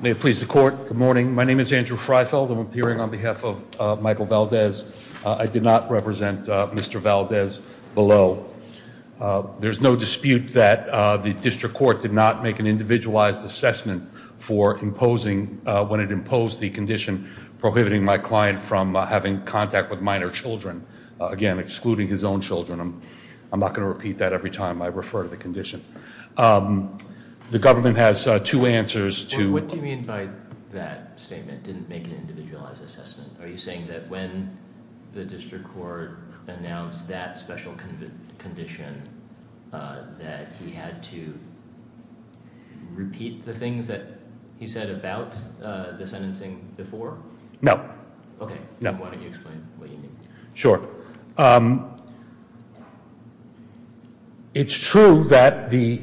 May it please the Court, good morning. My name is Andrew Freifeld. I'm appearing on behalf of Michael Valdez. I did not represent Mr. Valdez below. There's no dispute that the District Court did not make an individualized assessment for imposing when it imposed the condition prohibiting my client from having contact with minor children. Again, excluding his own children. I'm not gonna repeat that every time I refer to the condition. The government has two answers to. What do you mean by that statement? Didn't make an individualized assessment. Are you saying that when the District Court announced that special condition that he had to repeat the things that he said about the sentencing before? No. Okay, why don't you explain what you mean. Sure. It's true that the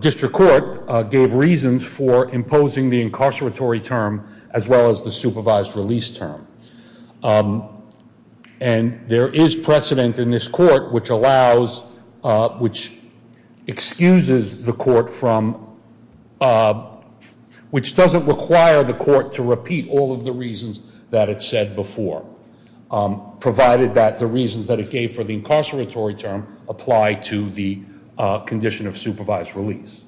District Court gave reasons for imposing the incarceratory term as well as the supervised release term. And there is precedent in this court which allows, which excuses the court from, which doesn't require the court to repeat all of the reasons that it said before. Provided that the reasons that it gave for the incarceratory term apply to the condition of supervised release.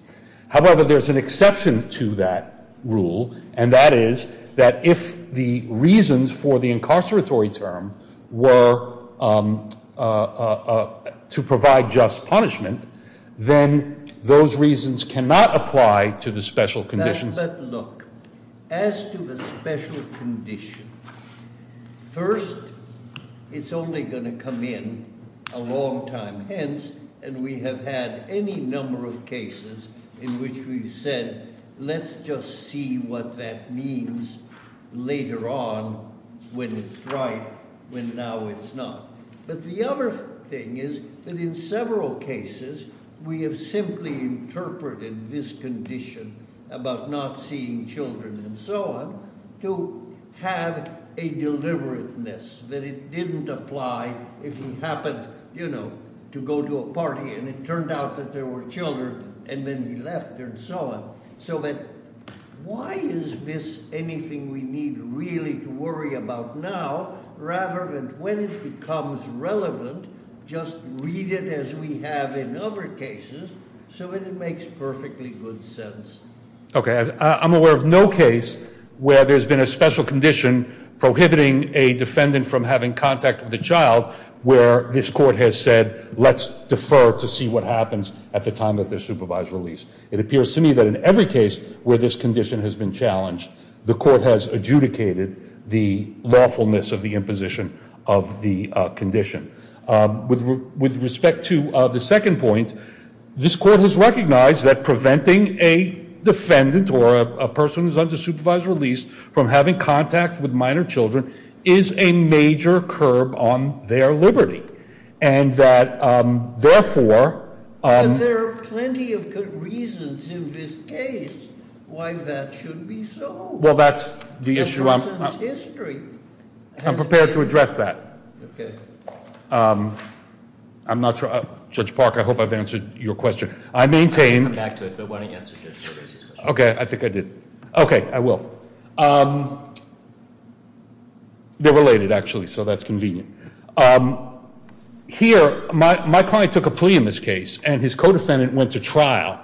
However, there's an exception to that rule and that is that if the reasons for the incarceratory term were to provide just punishment, then those reasons cannot apply to the special conditions. But look, as to the special condition, first, it's only gonna come in a long time. Hence, and we have had any number of cases in which we've said, let's just see what that means later on when it's right, when now it's not. But the other thing is that in several cases, we have simply interpreted this condition about not seeing children and so on to have a deliberateness that it didn't apply if he happened to go to a party and it turned out that there were children and then he left and so on. So that why is this anything we need really to worry about now rather than when it becomes relevant, just read it as we have in other cases so that it makes perfectly good sense. Okay, I'm aware of no case where there's been a special condition prohibiting a defendant from having contact with a child where this court has said, let's defer to see what happens at the time of their supervised release. It appears to me that in every case where this condition has been challenged, the court has adjudicated the lawfulness of the imposition of the condition. With respect to the second point, this court has recognized that preventing a defendant or a person who's under supervised release from having contact with minor children is a major curb on their liberty and that therefore- And there are plenty of good reasons in this case why that should be so. Well, that's the issue I'm- A person's history has been- I'm prepared to address that. Okay. I'm not sure, Judge Park, I hope I've answered your question. I maintain- I can come back to it, but why don't you answer Judge Gervase's question? Okay, I think I did. Okay, I will. They're related, actually, so that's convenient. Here, my client took a plea in this case and his co-defendant went to trial.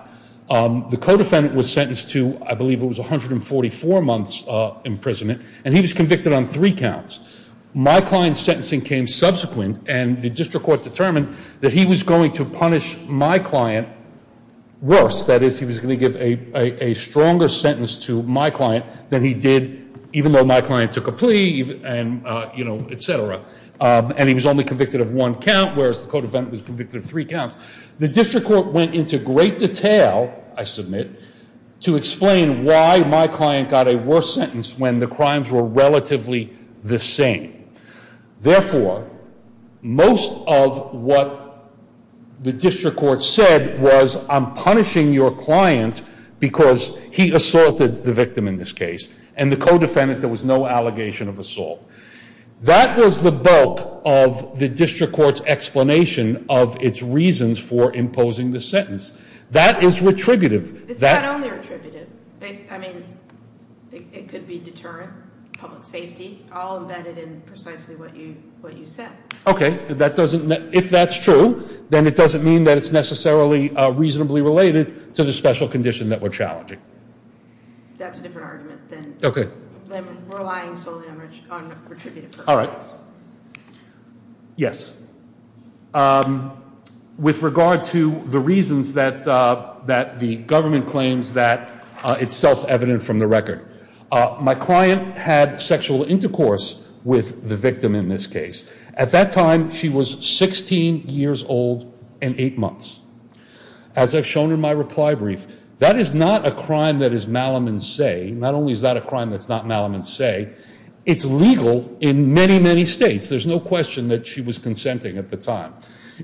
The co-defendant was sentenced to, I believe it was 144 months imprisonment, and he was convicted on three counts. My client's sentencing came subsequent and the district court determined that he was going to punish my client worse. That is, he was going to give a stronger sentence to my client than he did, even though my client took a plea, and, you know, et cetera. And he was only convicted of one count, whereas the co-defendant was convicted of three counts. The district court went into great detail, I submit, to explain why my client got a worse sentence when the crimes were relatively the same. Therefore, most of what the district court said was I'm punishing your client because he assaulted the victim in this case. And the co-defendant, there was no allegation of assault. That was the bulk of the district court's explanation of its reasons for imposing the sentence. That is retributive. That- It's not only retributive. I mean, it could be deterrent, public safety, all embedded in precisely what you said. Okay, if that's true, then it doesn't mean that it's necessarily reasonably related to the special condition that we're challenging. That's a different argument than- Okay. Than relying solely on retributive purposes. All right. Yes. With regard to the reasons that the government claims that it's self-evident from the record. My client had sexual intercourse with the victim in this case. At that time, she was 16 years old and eight months. As I've shown in my reply brief, that is not a crime that is malum in se. Not only is that a crime that's not malum in se, it's legal in many, many states. There's no question that she was consenting at the time.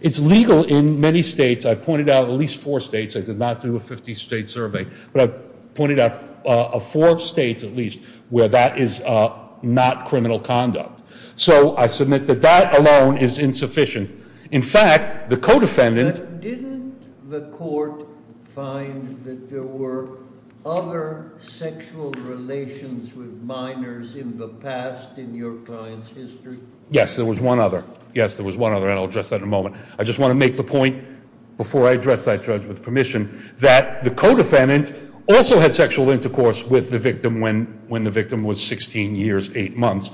It's legal in many states. I pointed out at least four states. I did not do a 50-state survey, but I pointed out four states at least where that is not criminal conduct. So I submit that that alone is insufficient. In fact, the co-defendant- Didn't the court find that there were other sexual relations with minors in the past in your client's history? Yes, there was one other. Yes, there was one other, and I'll address that in a moment. I just want to make the point, before I address that judge with permission, that the co-defendant also had sexual intercourse with the victim when the victim was 16 years, eight months.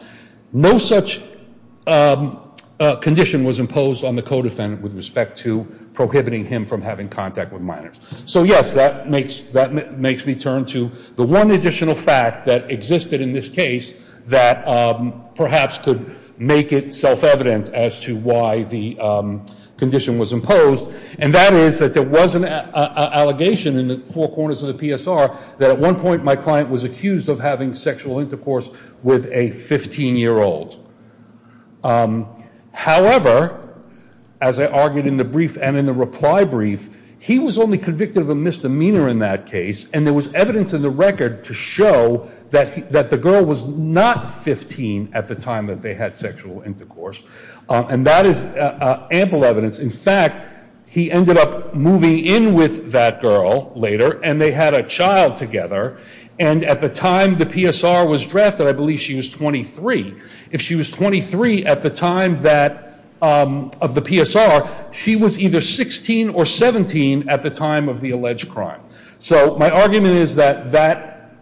No such condition was imposed on the co-defendant with respect to prohibiting him from having contact with minors. So yes, that makes me turn to the one additional fact that existed in this case that perhaps could make it self-evident as to why the condition was imposed, and that is that there was an allegation in the four corners of the PSR that at one point my client was accused of having sexual intercourse with a 15-year-old. However, as I argued in the brief and in the reply brief, he was only convicted of a misdemeanor in that case, and there was evidence in the record to show that the girl was not 15 at the time that they had sexual intercourse, and that is ample evidence. In fact, he ended up moving in with that girl later, and they had a child together, and at the time the PSR was drafted, I believe she was 23. If she was 23 at the time of the PSR, she was either 16 or 17 at the time of the alleged crime. So my argument is that that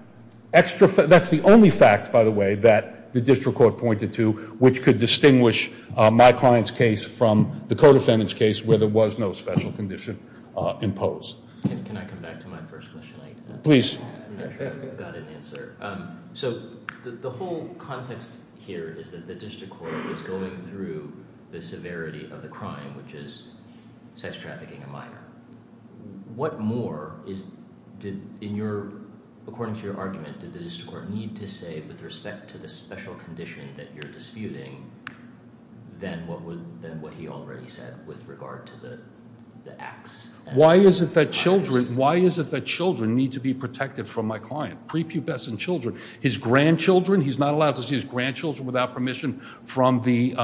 extra, that's the only fact, by the way, that the district court pointed to which could distinguish my client's case from the co-defendant's case where there was no special condition imposed. Can I come back to my first question? Please. I'm not sure I've got an answer. So the whole context here is that the district court is going through the severity of the crime, which is sex trafficking a minor. What more, according to your argument, did the district court need to say with respect to the special condition that you're disputing than what he already said with regard to the acts? Why is it that children need to be protected from my client? Pre-pubescent children. His grandchildren, he's not allowed to see his grandchildren without permission from the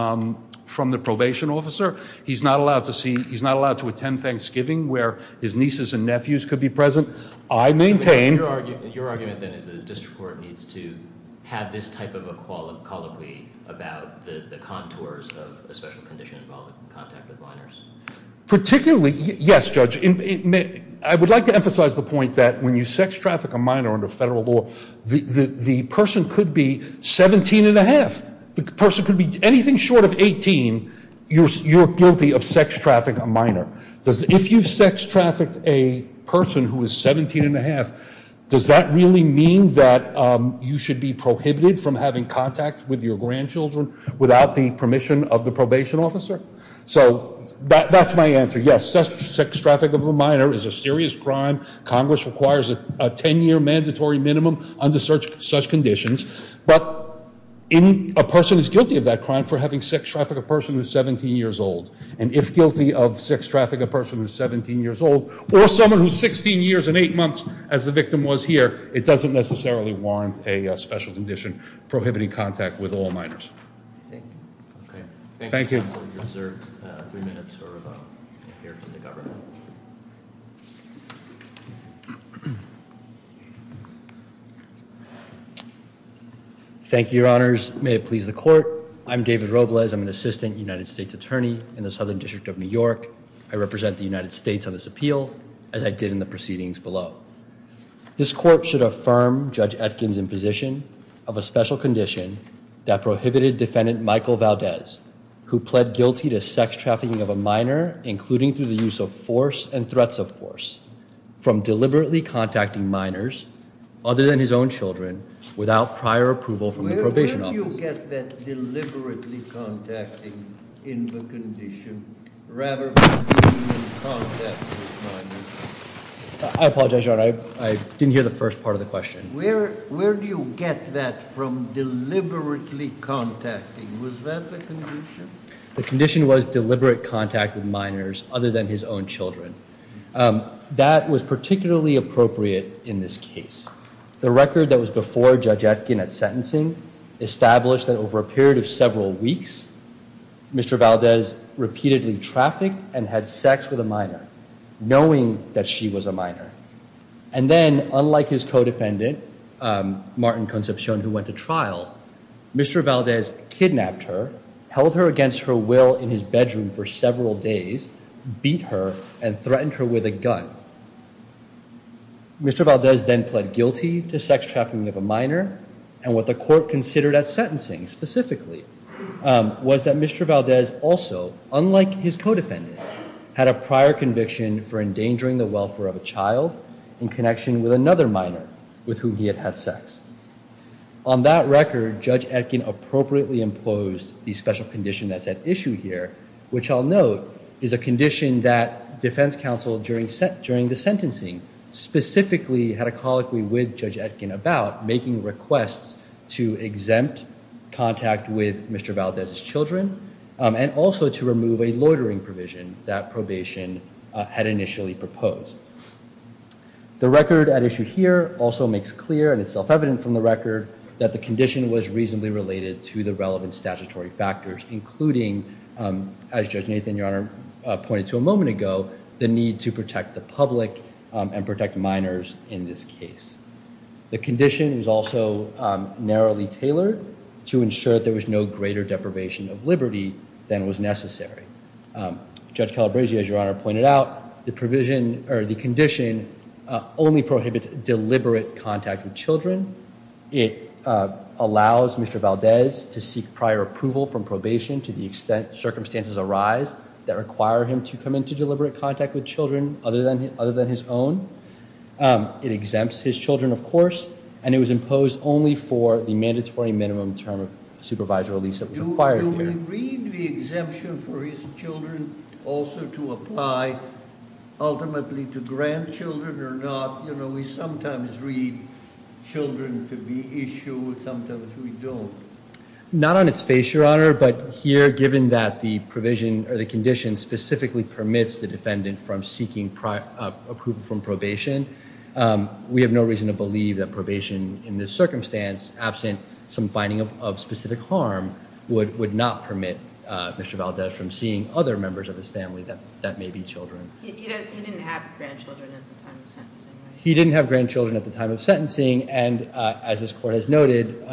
probation officer. He's not allowed to see, he's not allowed to attend Thanksgiving where his nieces and nephews could be present. I maintain. Your argument then is that the district court needs to have this type of a colloquy about the contours of a special condition involving contact with minors. Particularly, yes, Judge. I would like to emphasize the point that when you sex traffic a minor under federal law, the person could be 17 and a half. The person could be anything short of 18. You're guilty of sex traffic a minor. If you've sex trafficked a person who is 17 and a half, does that really mean that you should be prohibited from having contact with your grandchildren without the permission of the probation officer? So that's my answer. Yes, sex traffic of a minor is a serious crime. Congress requires a 10-year mandatory minimum under such conditions. But a person is guilty of that crime for having sex trafficked a person who's 17 years old. And if guilty of sex traffic a person who's 17 years old or someone who's 16 years and eight months as the victim was here, it doesn't necessarily warrant a special condition prohibiting contact with all minors. Thank you. Okay, thank you. You're reserved three minutes for a rebuttal. Here to the governor. Thank you, your honors. May it please the court. I'm David Robles. I'm an assistant United States attorney in the Southern District of New York. I represent the United States on this appeal as I did in the proceedings below. This court should affirm Judge Etkins' imposition of a special condition that prohibited defendant Michael Valdez, who pled guilty to sex trafficking of a minor, including through the use of force and threats of force, from deliberately contacting minors other than his own children without prior approval from the probation office. Where do you get that deliberately contacting in the condition rather than being in contact with minors? I apologize, your honor. I didn't hear the first part of the question. Where do you get that from deliberately contacting? Was that the condition? The condition was deliberate contact with minors other than his own children. That was particularly appropriate in this case. The record that was before Judge Etkin at sentencing established that over a period of several weeks, Mr. Valdez repeatedly trafficked and had sex with a minor, knowing that she was a minor. And then, unlike his co-defendant, Martin Concepcion, who went to trial, Mr. Valdez kidnapped her, held her against her will in his bedroom for several days, beat her, and threatened her with a gun. Mr. Valdez then pled guilty to sex trafficking of a minor, and what the court considered at sentencing specifically was that Mr. Valdez also, unlike his co-defendant, had a prior conviction for endangering the welfare of a child in connection with another minor with whom he had had sex. On that record, Judge Etkin appropriately imposed the special condition that's at issue here, which I'll note is a condition that defense counsel during the sentencing specifically had a colloquy with Judge Etkin about, making requests to exempt contact with Mr. Valdez's children, and also to remove a loitering provision that probation had initially proposed. The record at issue here also makes clear, and it's self-evident from the record, that the condition was reasonably related to the relevant statutory factors, including, as Judge Nathan, Your Honor, pointed to a moment ago, the need to protect the public and protect minors in this case. The condition is also narrowly tailored to ensure that there was no greater deprivation of liberty than was necessary. Judge Calabresi, as Your Honor pointed out, the provision, or the condition, only prohibits deliberate contact with children. It allows Mr. Valdez to seek prior approval from probation to the extent circumstances arise that require him to come into deliberate contact with children other than his own. It exempts his children, of course, and it was imposed only for the mandatory minimum term of supervisory release that was required here. Do we read the exemption for his children also to apply ultimately to grandchildren or not? You know, we sometimes read children to be issued, sometimes we don't. Not on its face, Your Honor, but here, given that the provision, or the condition, specifically permits the defendant from seeking approval from probation, we have no reason to believe that probation in this circumstance, absent some finding of specific harm, would not permit Mr. Valdez from seeing other members of his family that may be children. He didn't have grandchildren at the time of sentencing, right? He didn't have grandchildren at the time of sentencing, and as this Court has noted,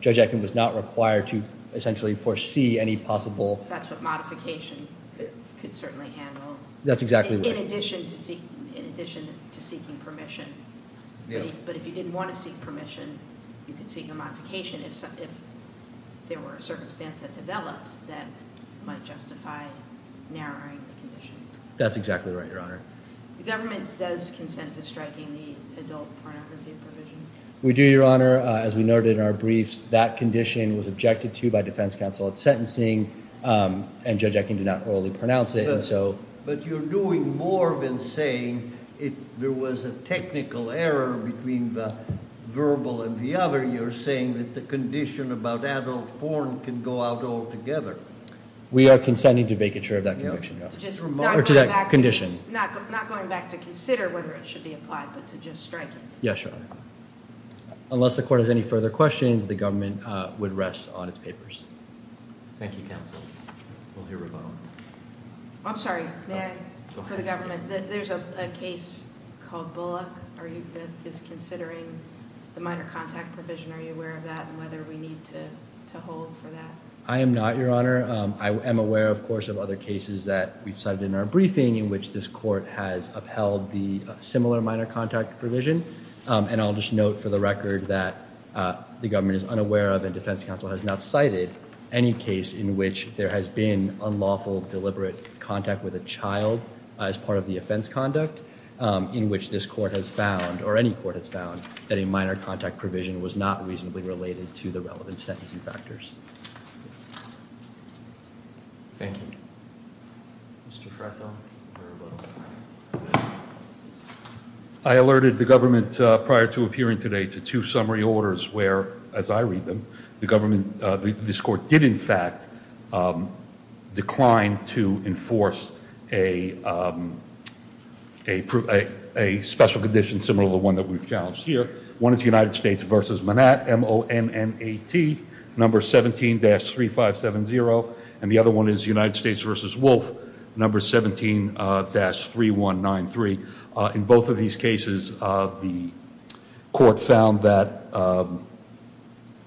Judge Aitken was not required to essentially foresee any possible- That's what modification could certainly handle. That's exactly right. In addition to seeking permission. But if you didn't want to seek permission, you could seek a modification if there were a circumstance that developed that might justify narrowing the condition. That's exactly right, Your Honor. The government does consent to striking the adult pornography provision? We do, Your Honor. As we noted in our briefs, that condition was objected to by defense counsel at sentencing, and Judge Aitken did not royally pronounce it. But you're doing more than saying there was a technical error between the verbal and the other. You're saying that the condition about adult porn can go out altogether. We are consenting to make it sure of that conviction, Your Honor. Or to that condition. Not going back to consider whether it should be applied, but to just strike it. Yes, Your Honor. Unless the Court has any further questions, the government would rest on its papers. Thank you, counsel. We'll hear a vote. I'm sorry, may I? For the government. There's a case called Bullock that is considering the minor contact provision. Are you aware of that, and whether we need to hold for that? I am not, Your Honor. I am aware, of course, of other cases that we've cited in our briefing, in which this Court has upheld the similar minor contact provision. And I'll just note for the record that the government is unaware of, and defense counsel has not cited, any case in which there has been unlawful, deliberate contact with a child as part of the offense conduct, in which this Court has found, or any Court has found, that a minor contact provision was not reasonably related to the relevant sentencing factors. Thank you. Mr. Frethel. I alerted the government prior to appearing today to two summary orders, where, as I read them, the government, this Court did, in fact, declined to enforce a special condition, similar to the one that we've challenged here. One is United States versus Manat, M-O-N-N-A-T, number 17-3570, and the other one is United States versus Wolfe, number 17-3193. In both of these cases, the Court found that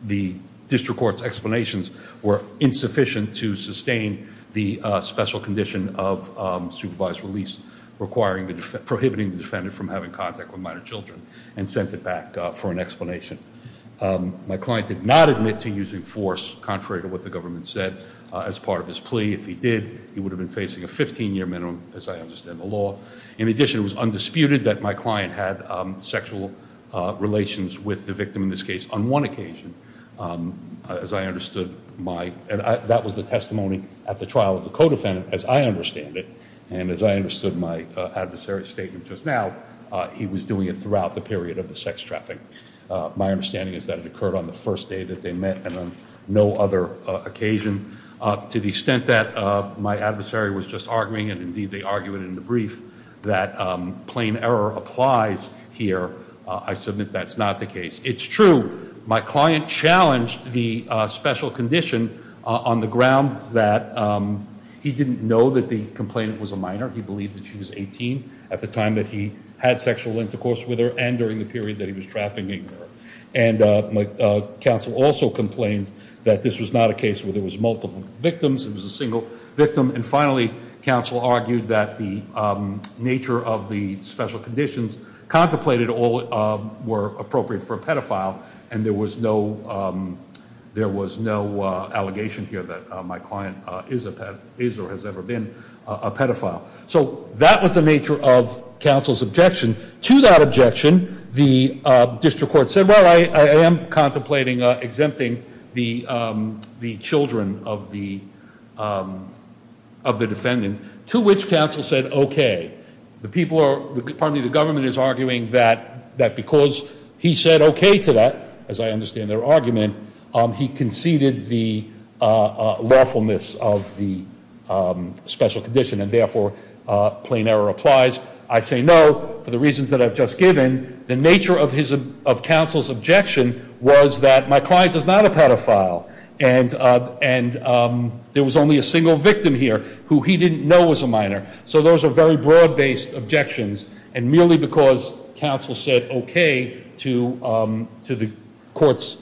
the District Court's explanations were insufficient to sustain the special condition of supervised release, prohibiting the defendant from having contact with minor children, and sent it back for an explanation. My client did not admit to using force, contrary to what the government said, as part of his plea. If he did, he would have been facing a 15-year minimum, as I understand the law. In addition, it was undisputed that my client had sexual relations with the victim in this case, on one occasion, as I understood my, and that was the testimony at the trial of the co-defendant, as I understand it, and as I understood my adversary's statement just now, he was doing it throughout the period of the sex traffic. My understanding is that it occurred on the first day that they met, and on no other occasion. To the extent that my adversary was just arguing, and indeed they argue it in the brief, that plain error applies here, I submit that's not the case. It's true. My client challenged the special condition on the grounds that he didn't know that the complainant was a minor. He believed that she was 18, at the time that he had sexual intercourse with her, and during the period that he was trafficking her. And my counsel also complained that this was not a case where there was multiple victims, it was a single victim, and finally, counsel argued that the nature of the special conditions contemplated all were appropriate for a pedophile, and there was no allegation here that my client is or has ever been a pedophile. So that was the nature of counsel's objection. To that objection, the district court said, well, I am contemplating exempting the children of the defendant, to which counsel said, okay, the people are, pardon me, the government is arguing that because he said okay to that, as I understand their argument, he conceded the lawfulness of the special condition, and therefore, plain error applies. I say no, for the reasons that I've just given, the nature of counsel's objection was that my client is not a pedophile, and there was only a single victim here who he didn't know was a minor. So those are very broad-based objections, and merely because counsel said okay to the court's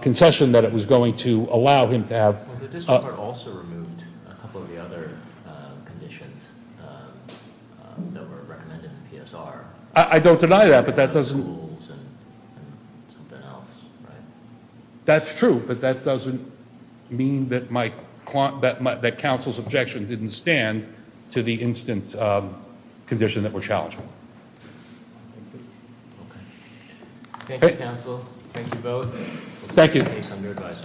concession that it was going to allow him to have. Well, the district court also removed a couple of the other conditions that were recommended in PSR. I don't deny that, but that doesn't. Schools and something else, right? That's true, but that doesn't mean that counsel's objection didn't stand to the instant condition that we're challenging. Thank you, counsel. Thank you both. Thank you. Based on your advice.